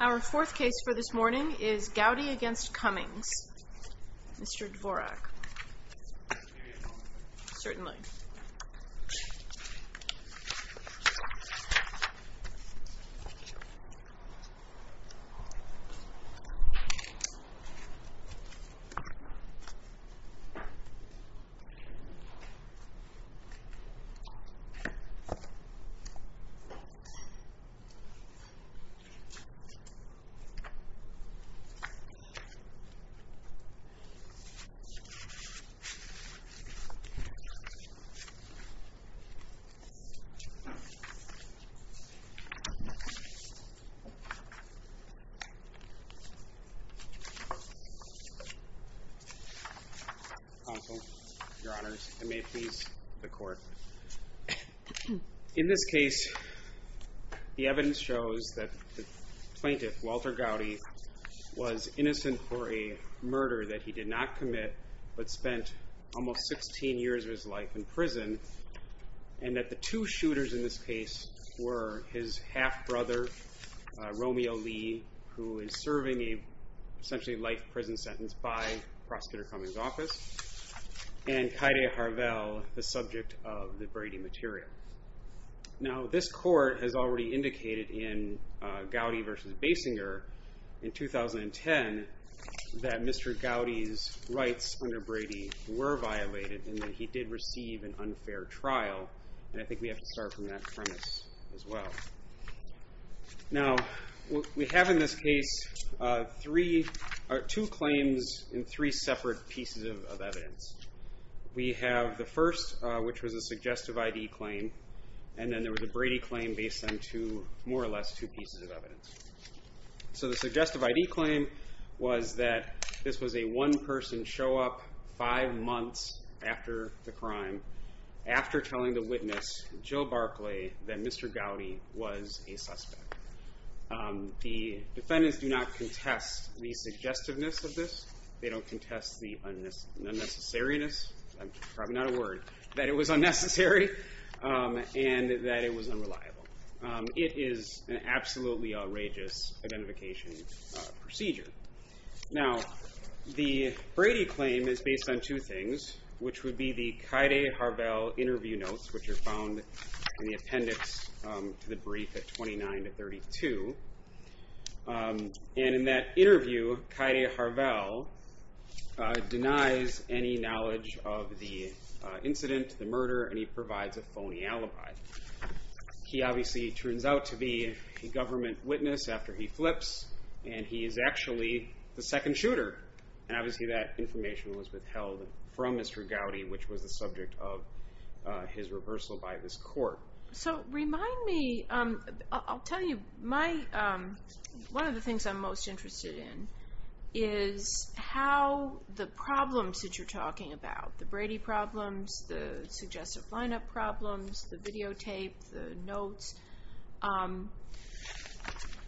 Our fourth case for this morning is Goudy v. Cummings, Mr. Dvorak. Certainly. Counsel, Your Honors, and may it please the Court. In this case, the evidence shows that the plaintiff, Walter Goudy, was innocent for a murder that he did not commit, but spent almost 16 years of his life in prison, and that the two shooters in this case were his half-brother, Romeo Lee, who is serving a essentially life prison sentence by Prosecutor Cummings' office, and Kaede Harvell, the subject of the Brady material. Now, this Court has already indicated in Goudy v. Basinger, in 2010, that Mr. Goudy's rights under Brady were violated, and that he did receive an unfair trial, and I think we have to start from that premise as well. Now, we have in this case two claims in three separate pieces of evidence. We have the first, which was a suggestive I.D. claim, and then there was a Brady claim based on more or less two pieces of evidence. So the suggestive I.D. claim was that this was a one-person show-up five months after the crime, after telling the witness, Jill Barclay, that Mr. Goudy was a suspect. The defendants do not contest the suggestiveness of this, they don't contest the unnecessariness, probably not a word, that it was unnecessary, and that it was unreliable. It is an absolutely outrageous identification procedure. Now, the Brady claim is based on two things, which would be the Kaede Harvell interview notes, which are found in the appendix to the brief at 29 to 32, and in that interview, Kaede Harvell denies any knowledge of the incident, the murder, and he provides a phony alibi. He obviously turns out to be a government witness after he flips, and he is actually the second shooter, and obviously that information was withheld from Mr. Goudy, which was the reason for his reversal by this court. So remind me, I'll tell you, one of the things I'm most interested in is how the problems that you're talking about, the Brady problems, the suggestive line-up problems, the videotape, the notes,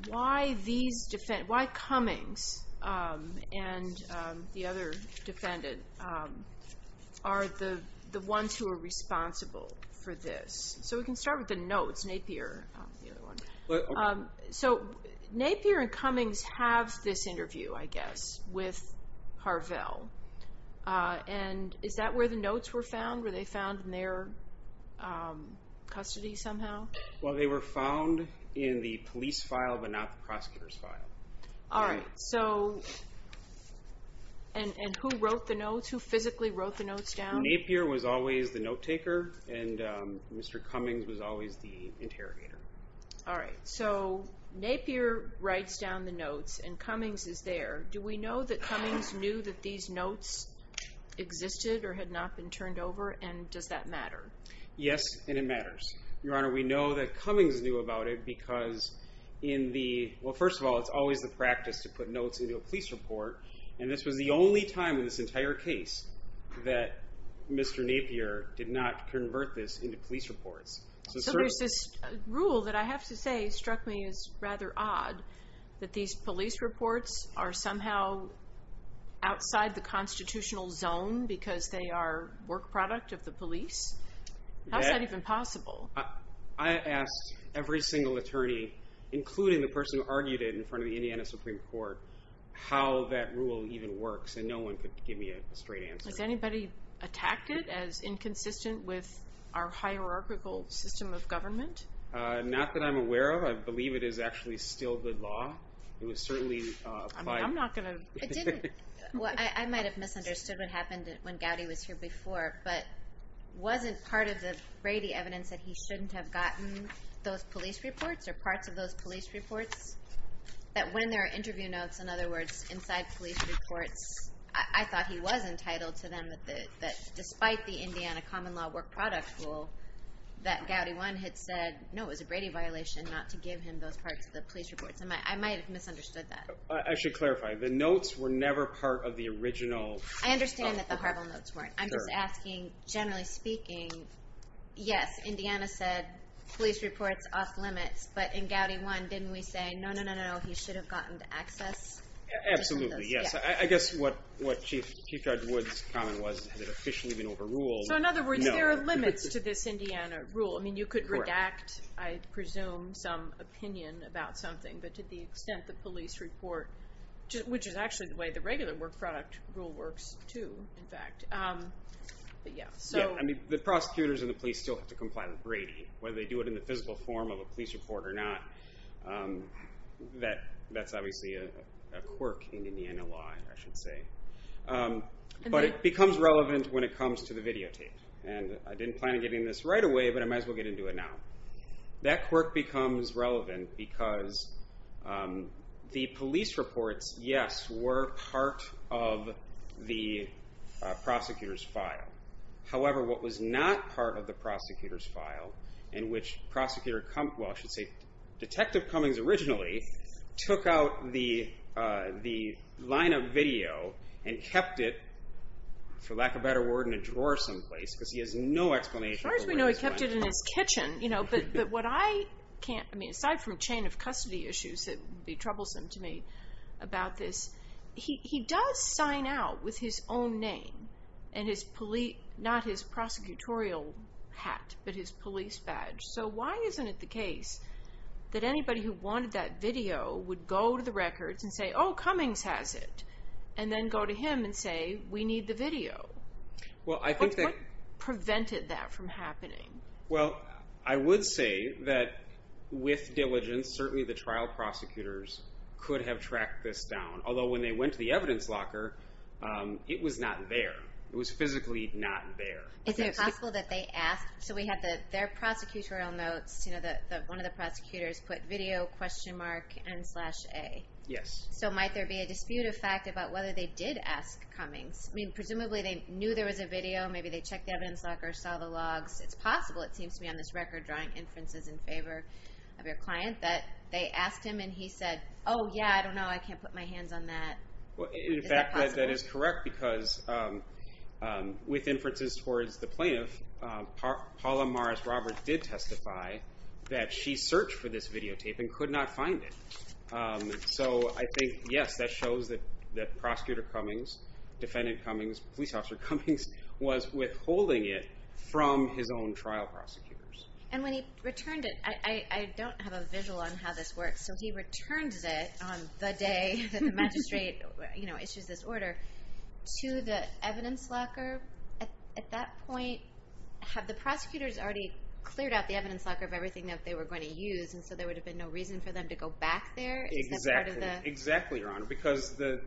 why Cummings and the other defendant are the ones who are responsible for this. So we can start with the notes, Napier. So Napier and Cummings have this interview, I guess, with Harvell, and is that where the Well, they were found in the police file, but not the prosecutor's file. All right, so, and who wrote the notes? Who physically wrote the notes down? Napier was always the note taker, and Mr. Cummings was always the interrogator. All right, so Napier writes down the notes, and Cummings is there. Do we know that Cummings knew that these notes existed or had not been turned over, and does that matter? Yes, and it matters. Your Honor, we know that Cummings knew about it because in the, well, first of all, it's always the practice to put notes into a police report, and this was the only time in this entire case that Mr. Napier did not convert this into police reports. So there's this rule that I have to say struck me as rather odd, that these police reports are somehow outside the constitutional zone because they are work product of the police. How is that even possible? I asked every single attorney, including the person who argued it in front of the Indiana Supreme Court, how that rule even works, and no one could give me a straight answer. Has anybody attacked it as inconsistent with our hierarchical system of government? Not that I'm aware of. I believe it is actually still the law. It was certainly applied. I mean, I'm not going to. It didn't, well, I might have misunderstood what happened when Gowdy was here before, but wasn't part of the Brady evidence that he shouldn't have gotten those police reports or parts of those police reports? That when there are interview notes, in other words, inside police reports, I thought he was entitled to them, that despite the Indiana common law work product rule, that Gowdy 1 had said, no, it was a Brady violation not to give him those parts of the police reports. I might have misunderstood that. I should clarify. The notes were never part of the original. I understand that the Harville notes weren't. I'm just asking, generally speaking, yes, Indiana said police reports off limits. But in Gowdy 1, didn't we say, no, no, no, no, no, he should have gotten the access? Absolutely, yes. I guess what Chief Judge Wood's comment was, has it officially been overruled? So in other words, there are limits to this Indiana rule. I mean, you could redact, I presume, some opinion about something. But to the extent the police report, which is actually the way the regular work product rule works, too, in fact. The prosecutors and the police still have to comply with Brady, whether they do it in the physical form of a police report or not. That's obviously a quirk in Indiana law, I should say. But it becomes relevant when it comes to the videotape. And I didn't plan on getting this right away, but I might as well get into it now. That quirk becomes relevant because the police reports, yes, were part of the prosecutor's file. However, what was not part of the prosecutor's file, in which prosecutor, well, I should say, Detective Cummings originally took out the line of video and kept it, for lack of a better word, in a drawer someplace, because he has no explanation. As far as we know, he kept it in his kitchen. But what I can't, I mean, aside from chain of custody issues that would be troublesome to me about this, he does sign out with his own name and his police, not his prosecutorial hat, but his police badge. So why isn't it the case that anybody who wanted that video would go to the records and say, oh, Cummings has it, and then go to him and say, we need the video? What prevented that from happening? Well, I would say that with diligence, certainly the trial prosecutors could have tracked this down. Although when they went to the evidence locker, it was not there. It was physically not there. Is it possible that they asked, so we have their prosecutorial notes, one of the prosecutors put video, question mark, and slash A. Yes. So might there be a dispute of fact about whether they did ask Cummings? I mean, presumably they knew there was a video. Maybe they checked the evidence locker, saw the logs. It's possible, it seems to me on this record, drawing inferences in favor of your client, that they asked him and he said, oh, yeah, I don't know. I can't put my hands on that. Is that possible? In fact, that is correct, because with inferences towards the plaintiff, Paula Morris Roberts did testify that she searched for this videotape and could not find it. So I think, yes, that shows that prosecutor Cummings, defendant Cummings, police officer Cummings was withholding it from his own trial prosecutors. And when he returned it, I don't have a visual on how this works. So he returns it on the day that the magistrate issues this order to the evidence locker. At that point, have the prosecutors already cleared out the evidence locker of everything that they were going to use? And so there would have been no reason for them to go back there? Exactly. Exactly, Your Honor, because the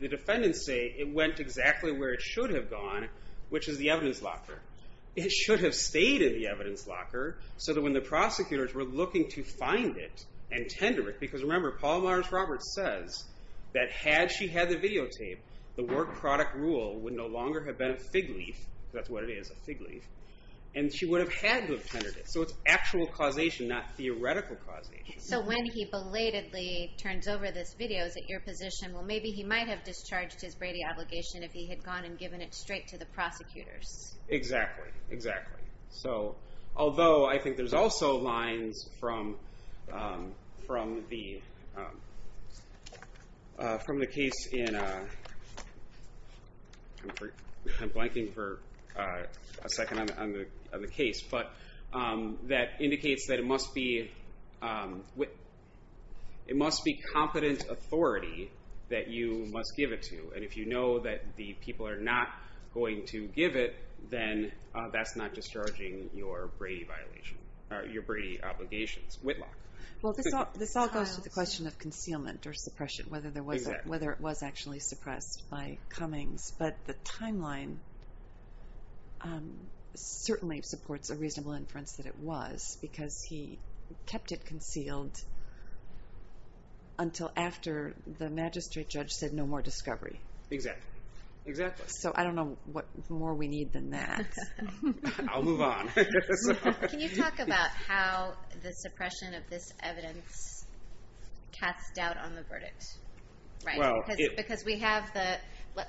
defendants say it went exactly where it should have gone, which is the evidence locker. It should have stayed in the evidence locker so that when the prosecutors were looking to find it and tender it, because remember, Paula Morris Roberts says that had she had the videotape, the work product rule would no longer have been a fig leaf. That's what it is, a fig leaf. And she would have had to have tendered it. So it's actual causation, not theoretical causation. So when he belatedly turns over this video, is it your position, well, maybe he might have discharged his Brady obligation if he had gone and given it straight to the prosecutors? Exactly. Exactly. So although I think there's also lines from the case in, I'm blanking for a second on the case, but that indicates that it must be competent authority that you must give it to. And if you know that the people are not going to give it, then that's not discharging your Brady violation, your Brady obligations, Whitlock. Well, this all goes to the question of concealment or suppression, whether it was actually suppressed by Cummings. But the timeline certainly supports a reasonable inference that it was, because he kept it So I don't know what more we need than that. I'll move on. Can you talk about how the suppression of this evidence casts doubt on the verdict? Because we have the,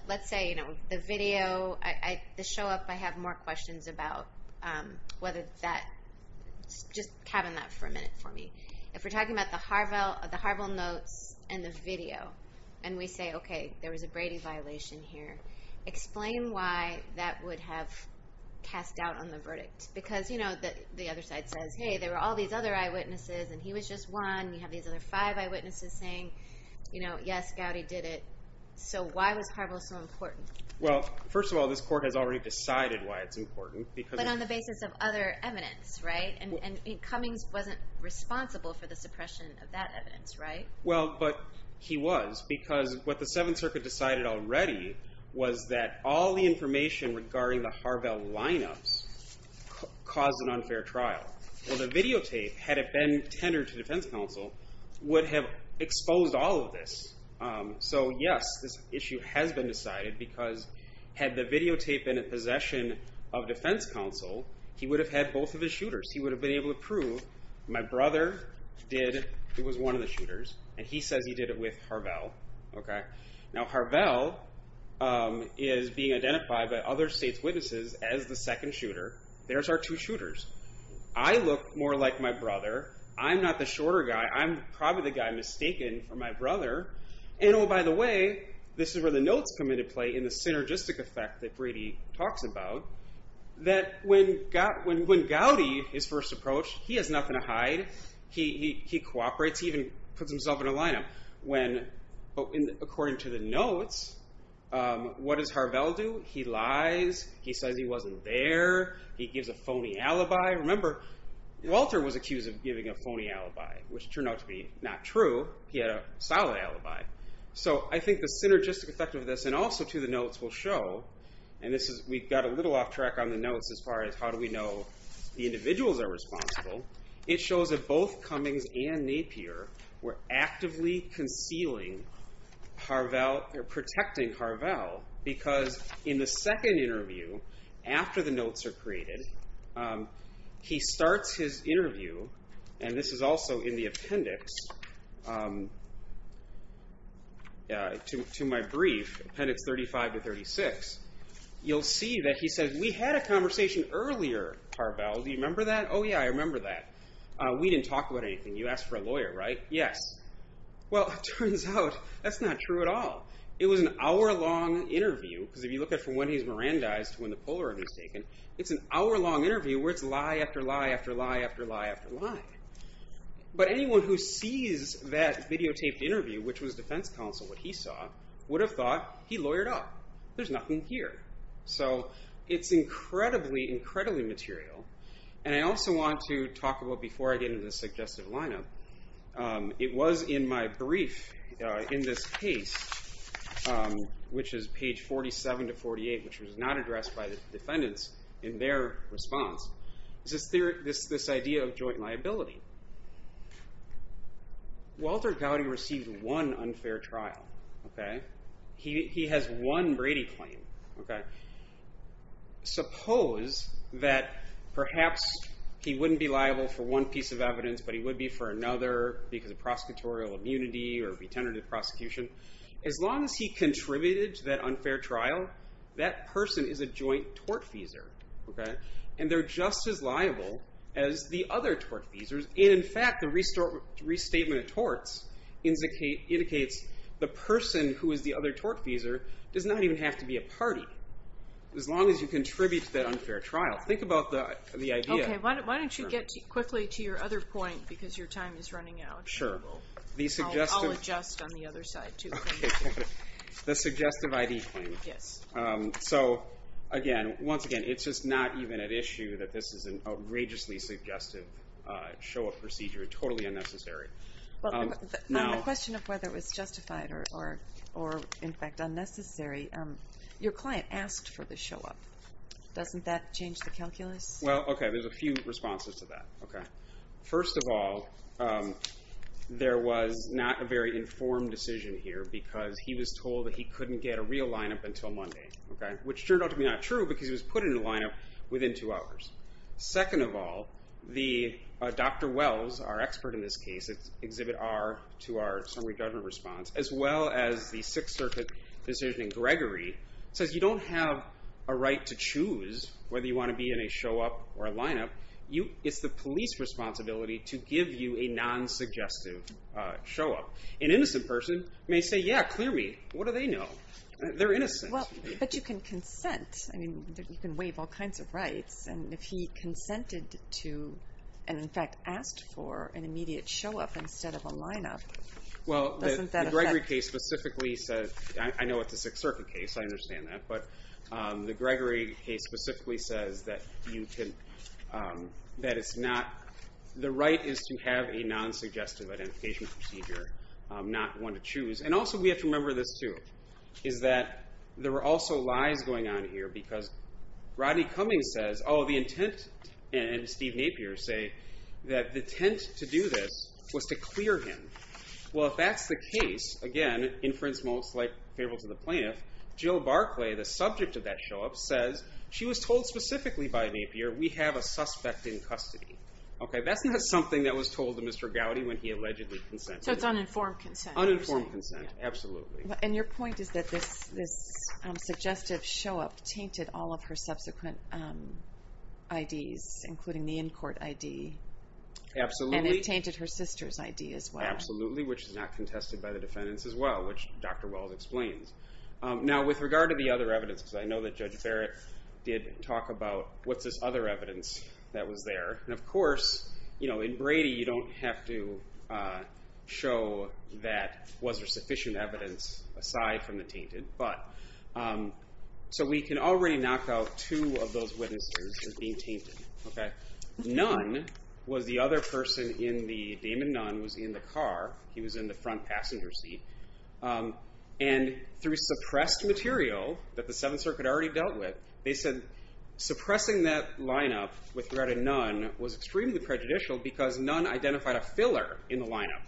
let's say, the video, the show up, I have more questions about whether that, just cabin that for a minute for me. If we're talking about the Harville notes and the video, and we say, okay, there was a Brady violation here, explain why that would have cast doubt on the verdict. Because the other side says, hey, there were all these other eyewitnesses, and he was just one, and you have these other five eyewitnesses saying, yes, Gowdy did it. So why was Harville so important? Well, first of all, this court has already decided why it's important. But on the basis of other evidence, right? And Cummings wasn't responsible for the suppression of that evidence, right? Well, but he was. Because what the Seventh Circuit decided already was that all the information regarding the Harville lineups caused an unfair trial. Well, the videotape, had it been tendered to defense counsel, would have exposed all of this. So, yes, this issue has been decided, because had the videotape been in possession of defense counsel, he would have had both of his shooters. He would have been able to prove, my brother did, he was one of the shooters, and he says he did it with Harville. Now, Harville is being identified by other state's witnesses as the second shooter. There's our two shooters. I look more like my brother. I'm not the shorter guy. I'm probably the guy mistaken for my brother. And, oh, by the way, this is where the notes come into play in the synergistic effect that when Gowdy is first approached, he has nothing to hide. He cooperates. He even puts himself in a lineup. When, according to the notes, what does Harville do? He lies. He says he wasn't there. He gives a phony alibi. Remember, Walter was accused of giving a phony alibi, which turned out to be not true. He had a solid alibi. So I think the synergistic effect of this, and also to the notes, will show. We got a little off track on the notes as far as how do we know the individuals are responsible. It shows that both Cummings and Napier were actively concealing Harville or protecting Harville because in the second interview, after the notes are created, he starts his interview, and this is also in the appendix to my brief, appendix 35 to 36. You'll see that he says, we had a conversation earlier, Harville. Do you remember that? Oh, yeah, I remember that. We didn't talk about anything. You asked for a lawyer, right? Yes. Well, it turns out that's not true at all. It was an hour-long interview because if you look at from when he's Mirandized to when the Polaroid is taken, it's an hour-long interview where it's lie after lie after lie after lie after lie. But anyone who sees that videotaped interview, which was defense counsel, what he saw, would have thought he lawyered up. There's nothing here. So it's incredibly, incredibly material. And I also want to talk about, before I get into the suggestive lineup, it was in my brief in this case, which is page 47 to 48, which was not addressed by the defendants in their response, this idea of joint liability. Walter Gowdy received one unfair trial. He has one Brady claim. Suppose that perhaps he wouldn't be liable for one piece of evidence, but he would be for another because of prosecutorial immunity or retentive prosecution. As long as he contributed to that unfair trial, that person is a joint tortfeasor. And they're just as liable as the other tortfeasors. And, in fact, the restatement of torts indicates the person who is the other tortfeasor does not even have to be a party, as long as you contribute to that unfair trial. Think about the idea. Okay, why don't you get quickly to your other point, because your time is running out. Sure. I'll adjust on the other side, too. The suggestive ID claim. Yes. So, again, once again, it's just not even at issue that this is an outrageously suggestive show-up procedure. Totally unnecessary. The question of whether it was justified or, in fact, unnecessary, your client asked for the show-up. Doesn't that change the calculus? Well, okay, there's a few responses to that. First of all, there was not a very informed decision here because he was told that he couldn't get a real lineup until Monday, which turned out to be not true because he was put in a lineup within two hours. Second of all, Dr. Wells, our expert in this case, Exhibit R to our summary judgment response, as well as the Sixth Circuit decision in Gregory, says you don't have a right to choose whether you want to be in a show-up or a lineup. It's the police responsibility to give you a non-suggestive show-up. An innocent person may say, yeah, clear me. What do they know? They're innocent. But you can consent. I mean, you can waive all kinds of rights. And if he consented to and, in fact, asked for an immediate show-up instead of a lineup, Well, the Gregory case specifically says, I know it's a Sixth Circuit case, I understand that, but the Gregory case specifically says that the right is to have a non-suggestive identification procedure, not one to choose. And also, we have to remember this, too, is that there were also lies going on here because Rodney Cummings says, oh, the intent, and Steve Napier say that the intent to do this was to clear him. Well, if that's the case, again, inference most favorable to the plaintiff, Jill Barclay, the subject of that show-up, says she was told specifically by Napier, we have a suspect in custody. Okay, that's not something that was told to Mr. Gowdy when he allegedly consented. So it's uninformed consent. Uninformed consent, absolutely. And your point is that this suggestive show-up tainted all of her subsequent IDs, including the in-court ID. Absolutely. And it tainted her sister's ID as well. Absolutely, which is not contested by the defendants as well, which Dr. Wells explains. Now, with regard to the other evidence, because I know that Judge Barrett did talk about, what's this other evidence that was there? And, of course, in Brady, you don't have to show that was there sufficient evidence aside from the tainted. So we can already knock out two of those witnesses as being tainted. Nunn was the other person in the, Damon Nunn was in the car. He was in the front passenger seat. And through suppressed material that the Seventh Circuit already dealt with, they said suppressing that lineup with regard to Nunn was extremely prejudicial because Nunn identified a filler in the lineup.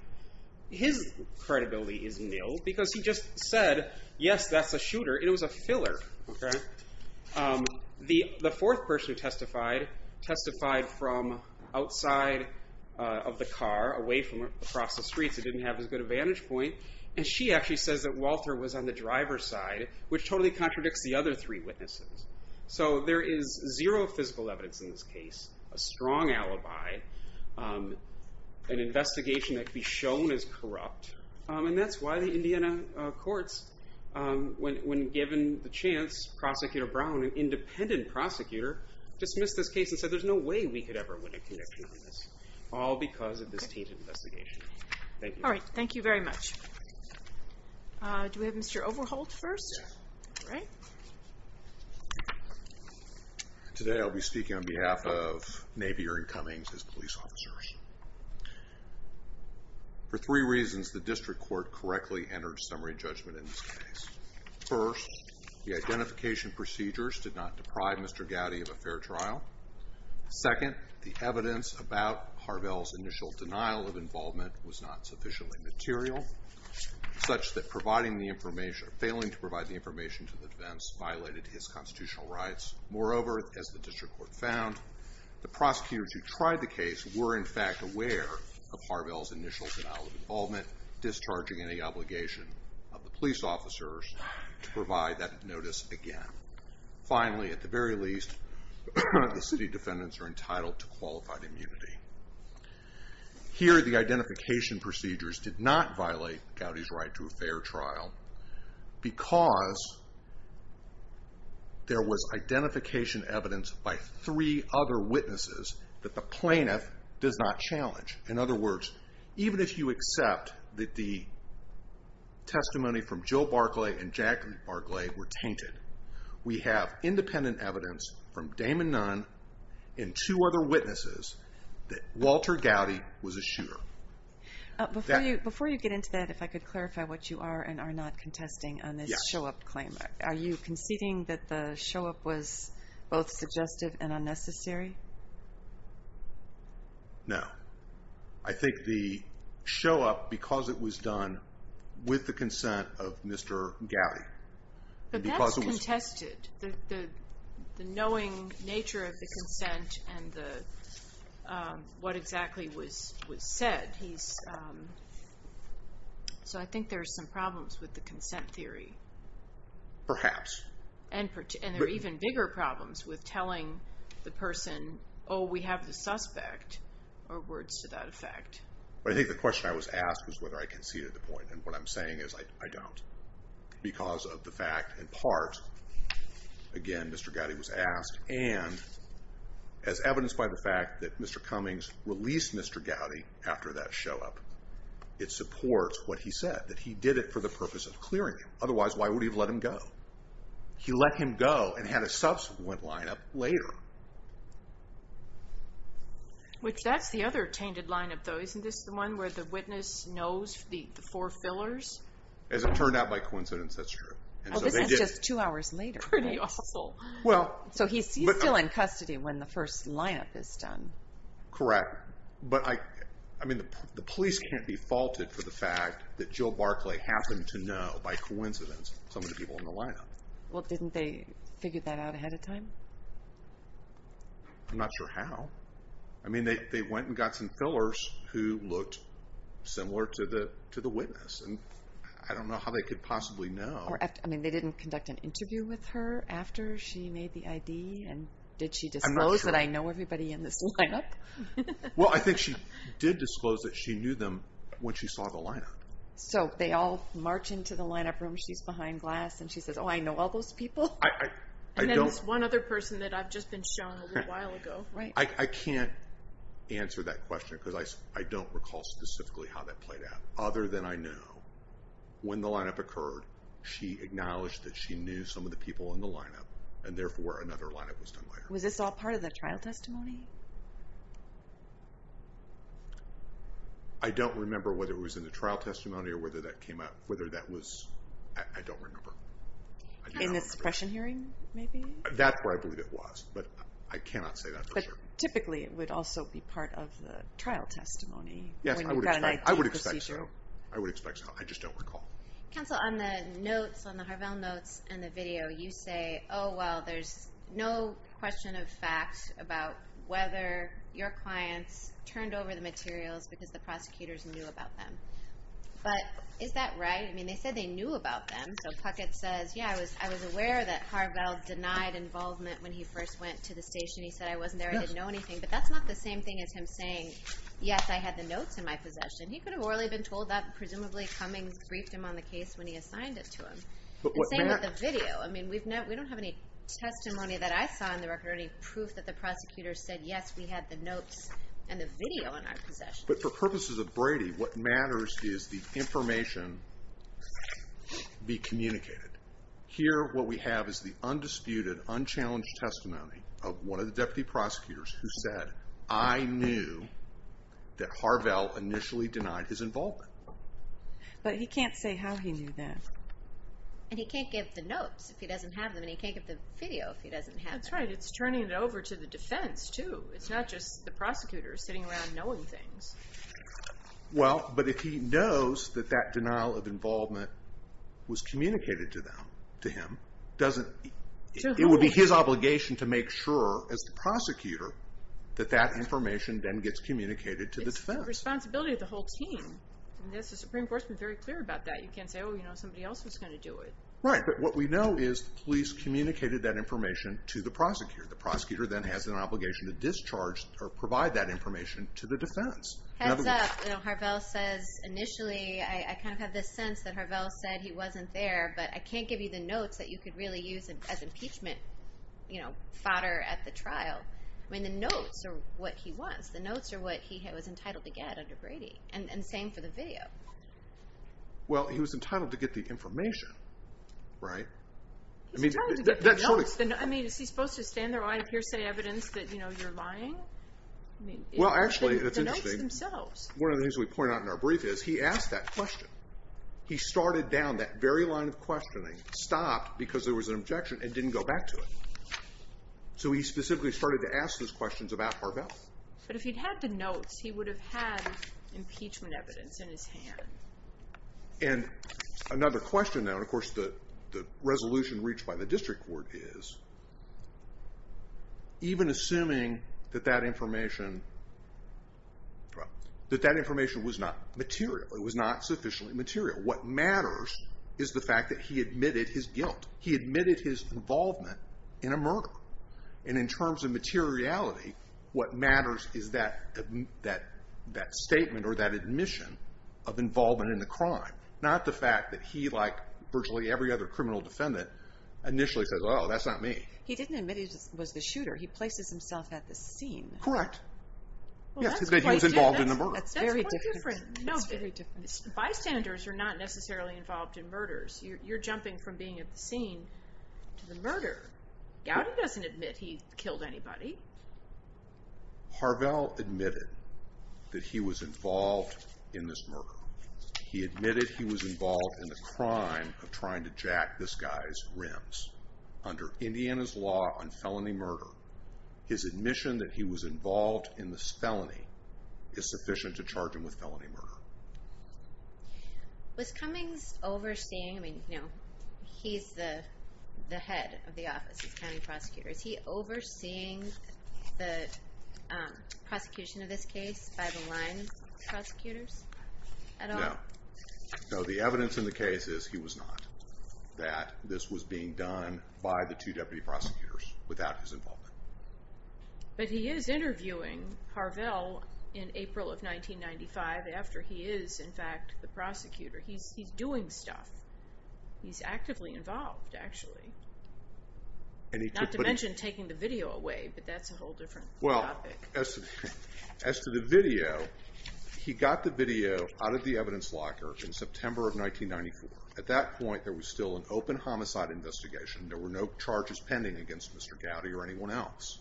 His credibility is nil because he just said, yes, that's a shooter, and it was a filler. The fourth person who testified testified from outside of the car, away from across the streets. It didn't have as good a vantage point. And she actually says that Walter was on the driver's side, which totally contradicts the other three witnesses. So there is zero physical evidence in this case, a strong alibi, an investigation that could be shown as corrupt. And that's why the Indiana courts, when given the chance, Prosecutor Brown, an independent prosecutor, dismissed this case and said there's no way we could ever win a connection on this, all because of this tainted investigation. Thank you. All right. Thank you very much. Do we have Mr. Overholt first? Yes. All right. Today I'll be speaking on behalf of Navy Aaron Cummings, his police officers. For three reasons, the district court correctly entered summary judgment in this case. First, the identification procedures did not deprive Mr. Gowdy of a fair trial. Second, the evidence about Harvell's initial denial of involvement was not sufficiently material, such that failing to provide the information to the defense violated his constitutional rights. Moreover, as the district court found, the prosecutors who tried the case were, in fact, aware of Harvell's initial denial of involvement, discharging any obligation of the police officers to provide that notice again. Finally, at the very least, the city defendants are entitled to qualified immunity. Here, the identification procedures did not violate Gowdy's right to a fair trial because there was identification evidence by three other witnesses that the plaintiff does not challenge. In other words, even if you accept that the testimony from Jill Barclay and Jacqueline Barclay were tainted, we have independent evidence from Damon Nunn and two other witnesses that Walter Gowdy was a shooter. Before you get into that, if I could clarify what you are and are not contesting on this show-up claim, are you conceding that the show-up was both suggestive and unnecessary? No. I think the show-up, because it was done with the consent of Mr. Gowdy. But that's contested, the knowing nature of the consent and what exactly was said. So I think there are some problems with the consent theory. Perhaps. And there are even bigger problems with telling the person, oh, we have the suspect, or words to that effect. I think the question I was asked was whether I conceded the point, and what I'm saying is I don't. Because of the fact, in part, again, Mr. Gowdy was asked, and as evidenced by the fact that Mr. Cummings released Mr. Gowdy after that show-up, it supports what he said, that he did it for the purpose of clearing him. He let him go and had a subsequent line-up later. Which, that's the other tainted line-up, though. Isn't this the one where the witness knows the four fillers? As it turned out by coincidence, that's true. Oh, this is just two hours later. Pretty awful. So he's still in custody when the first line-up is done. Correct. But the police can't be faulted for the fact that Jill Barclay happened to know, by coincidence, some of the people in the line-up. Well, didn't they figure that out ahead of time? I'm not sure how. I mean, they went and got some fillers who looked similar to the witness, and I don't know how they could possibly know. I mean, they didn't conduct an interview with her after she made the ID, and did she disclose that I know everybody in this line-up? Well, I think she did disclose that she knew them when she saw the line-up. So they all march into the line-up room. She's behind glass, and she says, Oh, I know all those people. And then this one other person that I've just been shown a little while ago. I can't answer that question because I don't recall specifically how that played out. Other than I know, when the line-up occurred, she acknowledged that she knew some of the people in the line-up, and therefore another line-up was done by her. Was this all part of the trial testimony? I don't remember whether it was in the trial testimony or whether that came up. Whether that was, I don't remember. In the suppression hearing, maybe? That's where I believe it was, but I cannot say that for sure. But typically it would also be part of the trial testimony. Yes, I would expect so. I would expect so. I just don't recall. Counsel, on the notes, on the Harvell notes and the video, you say, Oh, well, there's no question of fact about whether your clients turned over the materials because the prosecutors knew about them. But is that right? I mean, they said they knew about them. So Puckett says, Yeah, I was aware that Harvell denied involvement when he first went to the station. He said, I wasn't there. I didn't know anything. But that's not the same thing as him saying, Yes, I had the notes in my possession. He could have morally been told that. Presumably Cummings briefed him on the case when he assigned it to him. The same with the video. I mean, we don't have any testimony that I saw on the record or any proof that the prosecutor said, Yes, we had the notes and the video in our possession. But for purposes of Brady, what matters is the information be communicated. Here what we have is the undisputed, unchallenged testimony of one of the deputy prosecutors who said, I knew that Harvell initially denied his involvement. But he can't say how he knew that. And he can't give the notes if he doesn't have them. And he can't give the video if he doesn't have them. That's right. It's turning it over to the defense, too. It's not just the prosecutor sitting around knowing things. Well, but if he knows that that denial of involvement was communicated to him, it would be his obligation to make sure, as the prosecutor, that that information then gets communicated to the defense. It's the responsibility of the whole team. The Supreme Court's been very clear about that. You can't say, Oh, you know, somebody else was going to do it. Right. But what we know is the police communicated that information to the prosecutor. The prosecutor then has an obligation to discharge or provide that information to the defense. Heads up. Harvell says initially, I kind of have this sense that Harvell said he wasn't there, but I can't give you the notes that you could really use as impeachment fodder at the trial. I mean, the notes are what he wants. The notes are what he was entitled to get under Brady. And the same for the video. Well, he was entitled to get the information, right? He's entitled to get the notes. I mean, is he supposed to stand there with a lot of hearsay evidence that, you know, you're lying? Well, actually, it's interesting. The notes themselves. One of the things we point out in our brief is he asked that question. He started down that very line of questioning, stopped because there was an objection, and didn't go back to it. So he specifically started to ask those questions about Harvell. But if he'd had the notes, he would have had impeachment evidence in his hand. And another question now, and of course the resolution reached by the district court is, even assuming that that information was not material, it was not sufficiently material, what matters is the fact that he admitted his guilt. He admitted his involvement in a murder. And in terms of materiality, what matters is that statement or that admission of involvement in the crime, not the fact that he, like virtually every other criminal defendant, initially says, oh, that's not me. He didn't admit he was the shooter. He places himself at the scene. Correct. Yes, because he was involved in the murder. That's very different. Bystanders are not necessarily involved in murders. You're jumping from being at the scene to the murder. Gowdy doesn't admit he killed anybody. Harvell admitted that he was involved in this murder. He admitted he was involved in the crime of trying to jack this guy's rims. Under Indiana's law on felony murder, his admission that he was involved in this felony is sufficient to charge him with felony murder. Was Cummings overseeing? I mean, you know, he's the head of the office. He's a county prosecutor. Is he overseeing the prosecution of this case by the line prosecutors at all? No. No, the evidence in the case is he was not, that this was being done by the two deputy prosecutors without his involvement. But he is interviewing Harvell in April of 1995 after he is, in fact, the prosecutor. He's doing stuff. He's actively involved, actually. Not to mention taking the video away, but that's a whole different topic. Well, as to the video, he got the video out of the evidence locker in September of 1994. At that point, there was still an open homicide investigation. There were no charges pending against Mr. Gowdy or anyone else.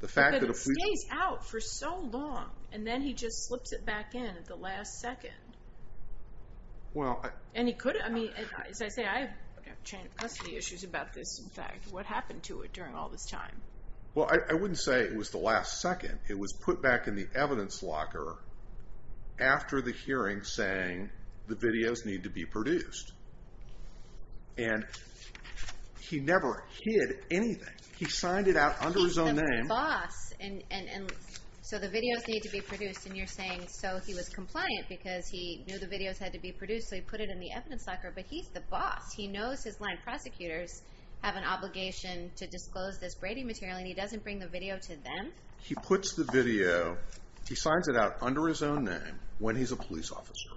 But it stays out for so long, and then he just slips it back in at the last second. And he couldn't, I mean, as I say, I have custody issues about this, in fact. What happened to it during all this time? Well, I wouldn't say it was the last second. It was put back in the evidence locker after the hearing saying the videos need to be produced. And he never hid anything. He signed it out under his own name. He's the boss, and so the videos need to be produced. And you're saying so he was compliant because he knew the videos had to be produced, so he put it in the evidence locker, but he's the boss. He knows his line prosecutors have an obligation to disclose this Brady material, and he doesn't bring the video to them? He puts the video, he signs it out under his own name when he's a police officer.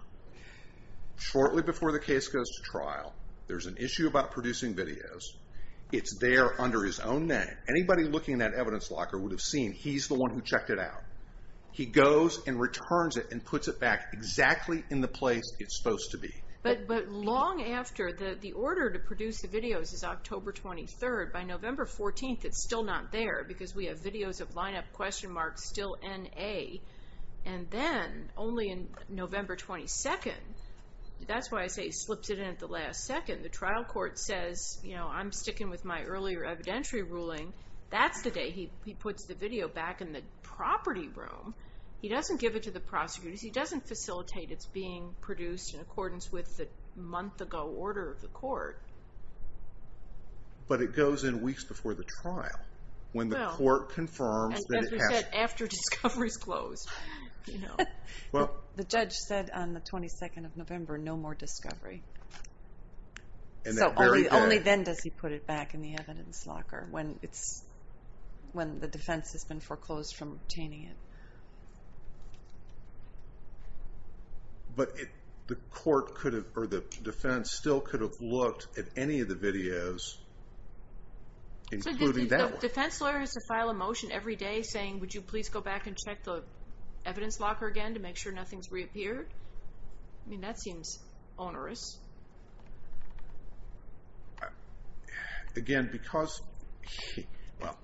Shortly before the case goes to trial, there's an issue about producing videos. It's there under his own name. Anybody looking in that evidence locker would have seen he's the one who checked it out. He goes and returns it and puts it back exactly in the place it's supposed to be. But long after, the order to produce the videos is October 23rd. By November 14th, it's still not there because we have videos of line up question marks still N-A. And then, only in November 22nd, that's why I say he slips it in at the last second. The trial court says, you know, I'm sticking with my earlier evidentiary ruling. That's the day he puts the video back in the property room. He doesn't give it to the prosecutors. He doesn't facilitate its being produced in accordance with the month-ago order of the court. But it goes in weeks before the trial when the court confirms that it has. But after discovery is closed, you know. Well, the judge said on the 22nd of November, no more discovery. So only then does he put it back in the evidence locker when it's, when the defense has been foreclosed from obtaining it. But the court could have, or the defense still could have looked at any of the videos, including that one. A defense lawyer has to file a motion every day saying, would you please go back and check the evidence locker again to make sure nothing's reappeared? I mean, that seems onerous. Again, because he, well.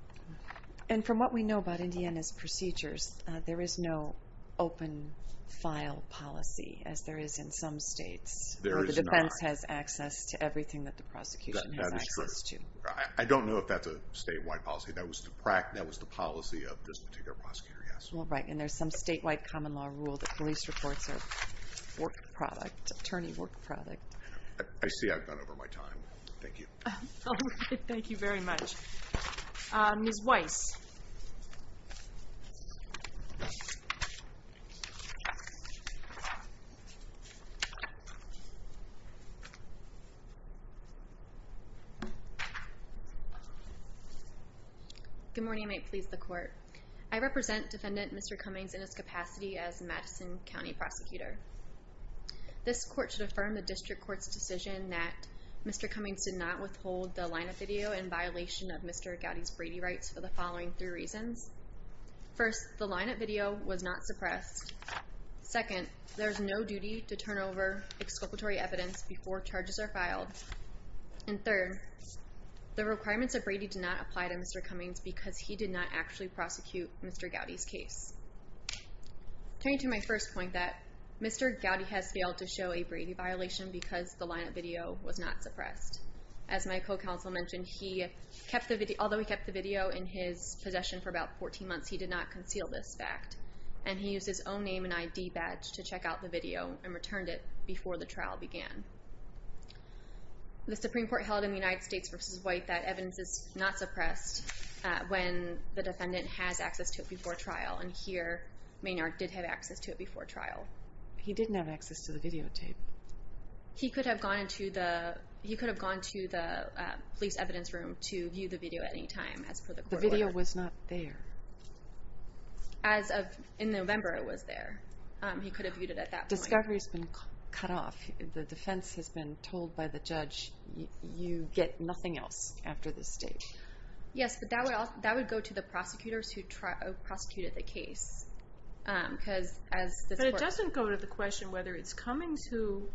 And from what we know about Indiana's procedures, there is no open file policy as there is in some states. There is not. Where the defense has access to everything that the prosecution has access to. I don't know if that's a statewide policy. That was the policy of this particular prosecutor, yes. Well, right. And there's some statewide common law rule that police reports are work product, attorney work product. I see I've gone over my time. Thank you. Thank you very much. Ms. Weiss. Good morning. May it please the court. I represent defendant Mr. Cummings in his capacity as Madison County prosecutor. This court should affirm the district court's decision that Mr. Cummings did not withhold the line of video in violation of Mr. Gowdy's Brady rights for the following three reasons. First, the line of video was not suppressed. Second, there is no duty to turn over exculpatory evidence before charges are filed. And third, the requirements of Brady did not apply to Mr. Cummings because he did not actually prosecute Mr. Gowdy's case. Turning to my first point that Mr. Gowdy has failed to show a Brady violation because the line of video was not suppressed. As my co-counsel mentioned, although he kept the video in his possession for about 14 months, he did not conceal this fact. And he used his own name and ID badge to check out the video and returned it before the trial began. The Supreme Court held in the United States v. White that evidence is not suppressed when the defendant has access to it before trial. And here, Maynard did have access to it before trial. He didn't have access to the videotape. He could have gone to the police evidence room to view the video at any time as per the court order. The video was not there. As of in November, it was there. He could have viewed it at that point. Discovery has been cut off. If the defense has been told by the judge, you get nothing else after this stage. Yes, but that would go to the prosecutors who prosecuted the case. But it doesn't go to the question whether it's Cummings who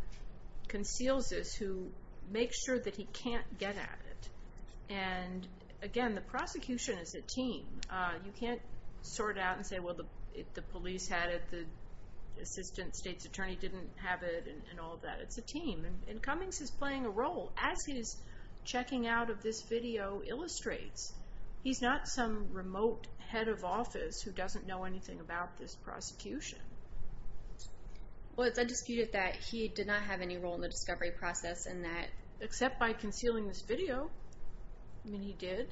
conceals this, who makes sure that he can't get at it. And, again, the prosecution is a team. You can't sort out and say, well, the police had it, the assistant state's attorney didn't have it, and all of that. It's a team, and Cummings is playing a role. As he's checking out of this video illustrates, he's not some remote head of office who doesn't know anything about this prosecution. Well, it's undisputed that he did not have any role in the discovery process in that. Except by concealing this video. I mean, he did.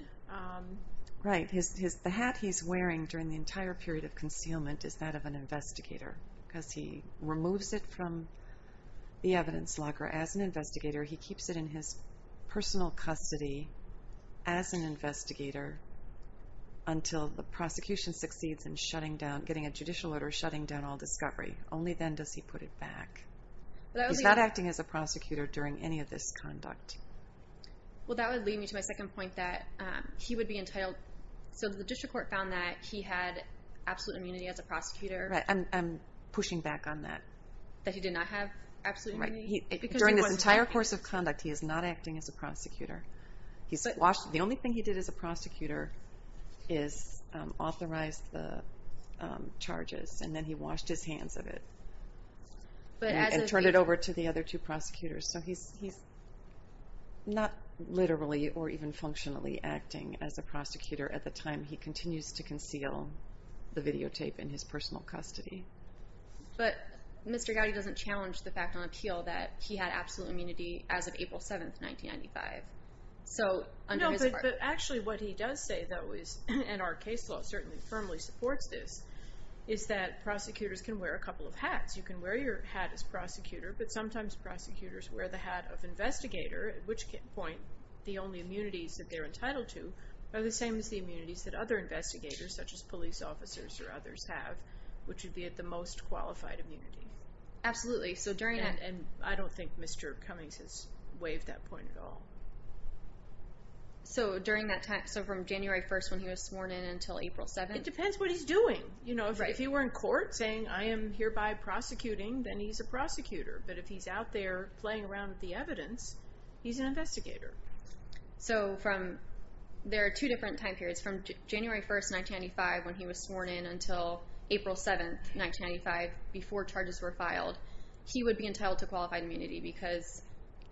Right. The hat he's wearing during the entire period of concealment is that of an investigator because he removes it from the evidence locker as an investigator. He keeps it in his personal custody as an investigator until the prosecution succeeds in getting a judicial order shutting down all discovery. Only then does he put it back. He's not acting as a prosecutor during any of this conduct. Well, that would lead me to my second point that he would be entitled. So the district court found that he had absolute immunity as a prosecutor. Right. I'm pushing back on that. That he did not have absolute immunity? Right. During this entire course of conduct, he is not acting as a prosecutor. The only thing he did as a prosecutor is authorize the charges, and then he washed his hands of it and turned it over to the other two prosecutors. So he's not literally or even functionally acting as a prosecutor at the time he continues to conceal the videotape in his personal custody. But Mr. Gowdy doesn't challenge the fact on appeal that he had absolute immunity as of April 7, 1995. No, but actually what he does say, though, and our case law certainly firmly supports this, is that prosecutors can wear a couple of hats. You can wear your hat as prosecutor, but sometimes prosecutors wear the hat of investigator, at which point the only immunities that they're entitled to are the same as the immunities that other investigators, such as police officers or others, have, which would be at the most qualified immunity. Absolutely. So during that— And I don't think Mr. Cummings has waived that point at all. So during that time, so from January 1st when he was sworn in until April 7? It depends what he's doing. If he were in court saying, I am hereby prosecuting, then he's a prosecutor. But if he's out there playing around with the evidence, he's an investigator. So there are two different time periods. From January 1st, 1995 when he was sworn in until April 7, 1995, before charges were filed, he would be entitled to qualified immunity because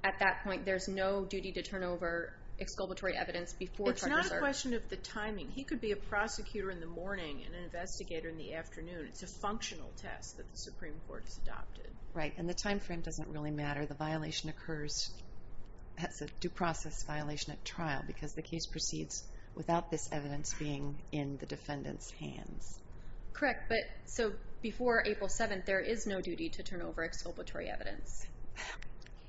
at that point there's no duty to turn over exculpatory evidence before charges are— It's not a question of the timing. He could be a prosecutor in the morning and an investigator in the afternoon. It's a functional test that the Supreme Court has adopted. Right, and the time frame doesn't really matter. The violation occurs—that's a due process violation at trial because the case proceeds without this evidence being in the defendant's hands. Correct, but so before April 7, there is no duty to turn over exculpatory evidence.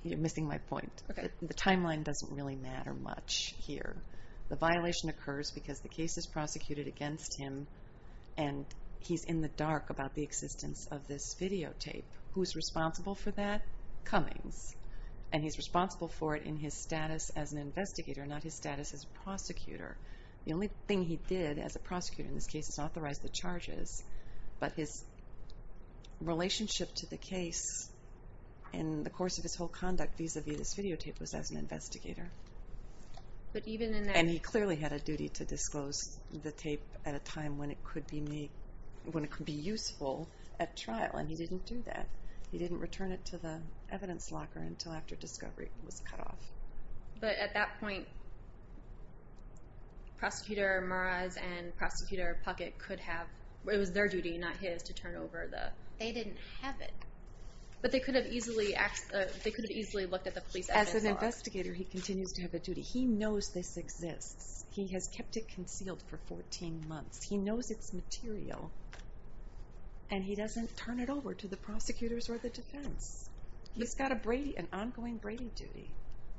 You're missing my point. Okay. The timeline doesn't really matter much here. The violation occurs because the case is prosecuted against him, and he's in the dark about the existence of this videotape. Who's responsible for that? Cummings, and he's responsible for it in his status as an investigator, not his status as a prosecutor. The only thing he did as a prosecutor in this case is authorize the charges, but his relationship to the case in the course of his whole conduct vis-à-vis this videotape was as an investigator. And he clearly had a duty to disclose the tape at a time when it could be useful at trial, and he didn't do that. He didn't return it to the evidence locker until after discovery was cut off. But at that point, Prosecutor Maraz and Prosecutor Puckett could have— it was their duty, not his, to turn over the— They didn't have it. But they could have easily looked at the police evidence locker. As an investigator, he continues to have a duty. He knows this exists. He has kept it concealed for 14 months. He knows it's material, and he doesn't turn it over to the prosecutors or the defense. He's got an ongoing Brady duty.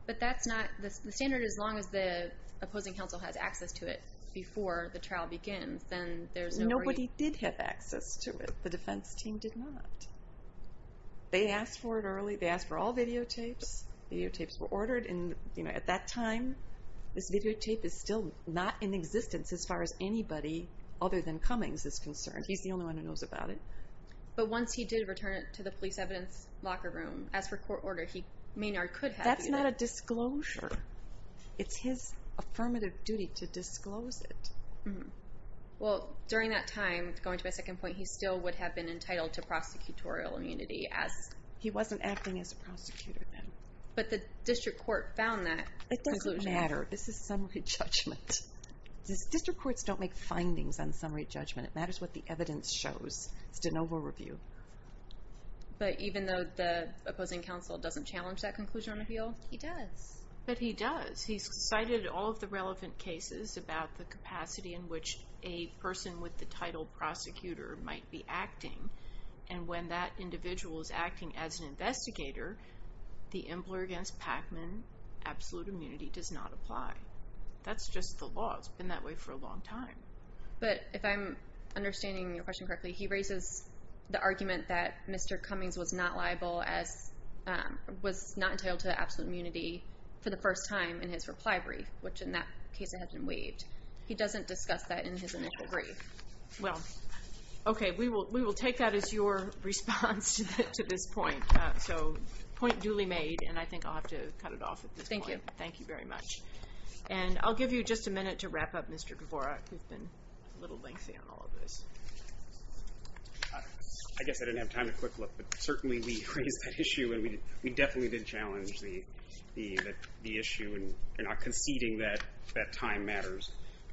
But that's not—the standard is as long as the opposing counsel has access to it before the trial begins, then there's no— Nobody did have access to it. The defense team did not. They asked for it early. The videotapes were ordered. At that time, this videotape is still not in existence as far as anybody other than Cummings is concerned. He's the only one who knows about it. But once he did return it to the police evidence locker room, as per court order, Maynard could have— That's not a disclosure. It's his affirmative duty to disclose it. Well, during that time, going to my second point, he still would have been entitled to prosecutorial immunity as— But the district court found that. It doesn't matter. This is summary judgment. District courts don't make findings on summary judgment. It matters what the evidence shows. It's de novo review. But even though the opposing counsel doesn't challenge that conclusion on appeal? He does. But he does. He's cited all of the relevant cases about the capacity in which a person with the title prosecutor might be acting, and when that individual is acting as an investigator, the employer against Pacman absolute immunity does not apply. That's just the law. It's been that way for a long time. But if I'm understanding your question correctly, he raises the argument that Mr. Cummings was not liable as— was not entitled to absolute immunity for the first time in his reply brief, which in that case it had been waived. He doesn't discuss that in his initial brief. Well, okay. We will take that as your response to this point. So, point duly made, and I think I'll have to cut it off at this point. Thank you. Thank you very much. And I'll give you just a minute to wrap up, Mr. Dvorak. You've been a little lengthy on all of this. I guess I didn't have time to quick look. But certainly we raised that issue, and we definitely did challenge the issue in conceding that that time matters.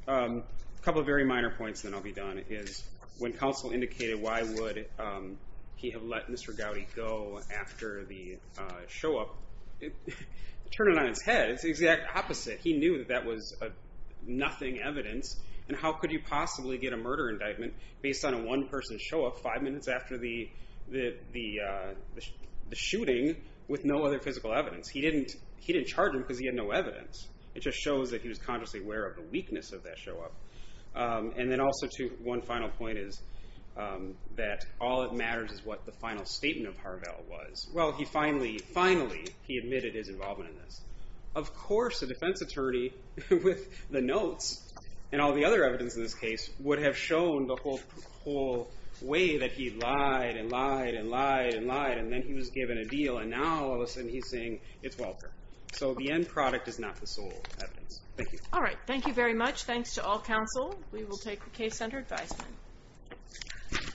A couple of very minor points, then I'll be done, is when counsel indicated why would he have let Mr. Gowdy go after the show-up, turn it on its head. It's the exact opposite. He knew that that was nothing evidence, and how could you possibly get a murder indictment based on a one-person show-up five minutes after the shooting with no other physical evidence? He didn't charge him because he had no evidence. It just shows that he was consciously aware of the weakness of that show-up. And then also, too, one final point is that all that matters is what the final statement of Harvell was. Well, he finally, finally, he admitted his involvement in this. Of course, a defense attorney with the notes and all the other evidence in this case would have shown the whole way that he lied and lied and lied and lied, and then he was given a deal, and now all of a sudden he's saying it's welfare. So the end product is not the sole evidence. Thank you. All right. Thank you very much. Thanks to all counsel. We will take the case under advisement.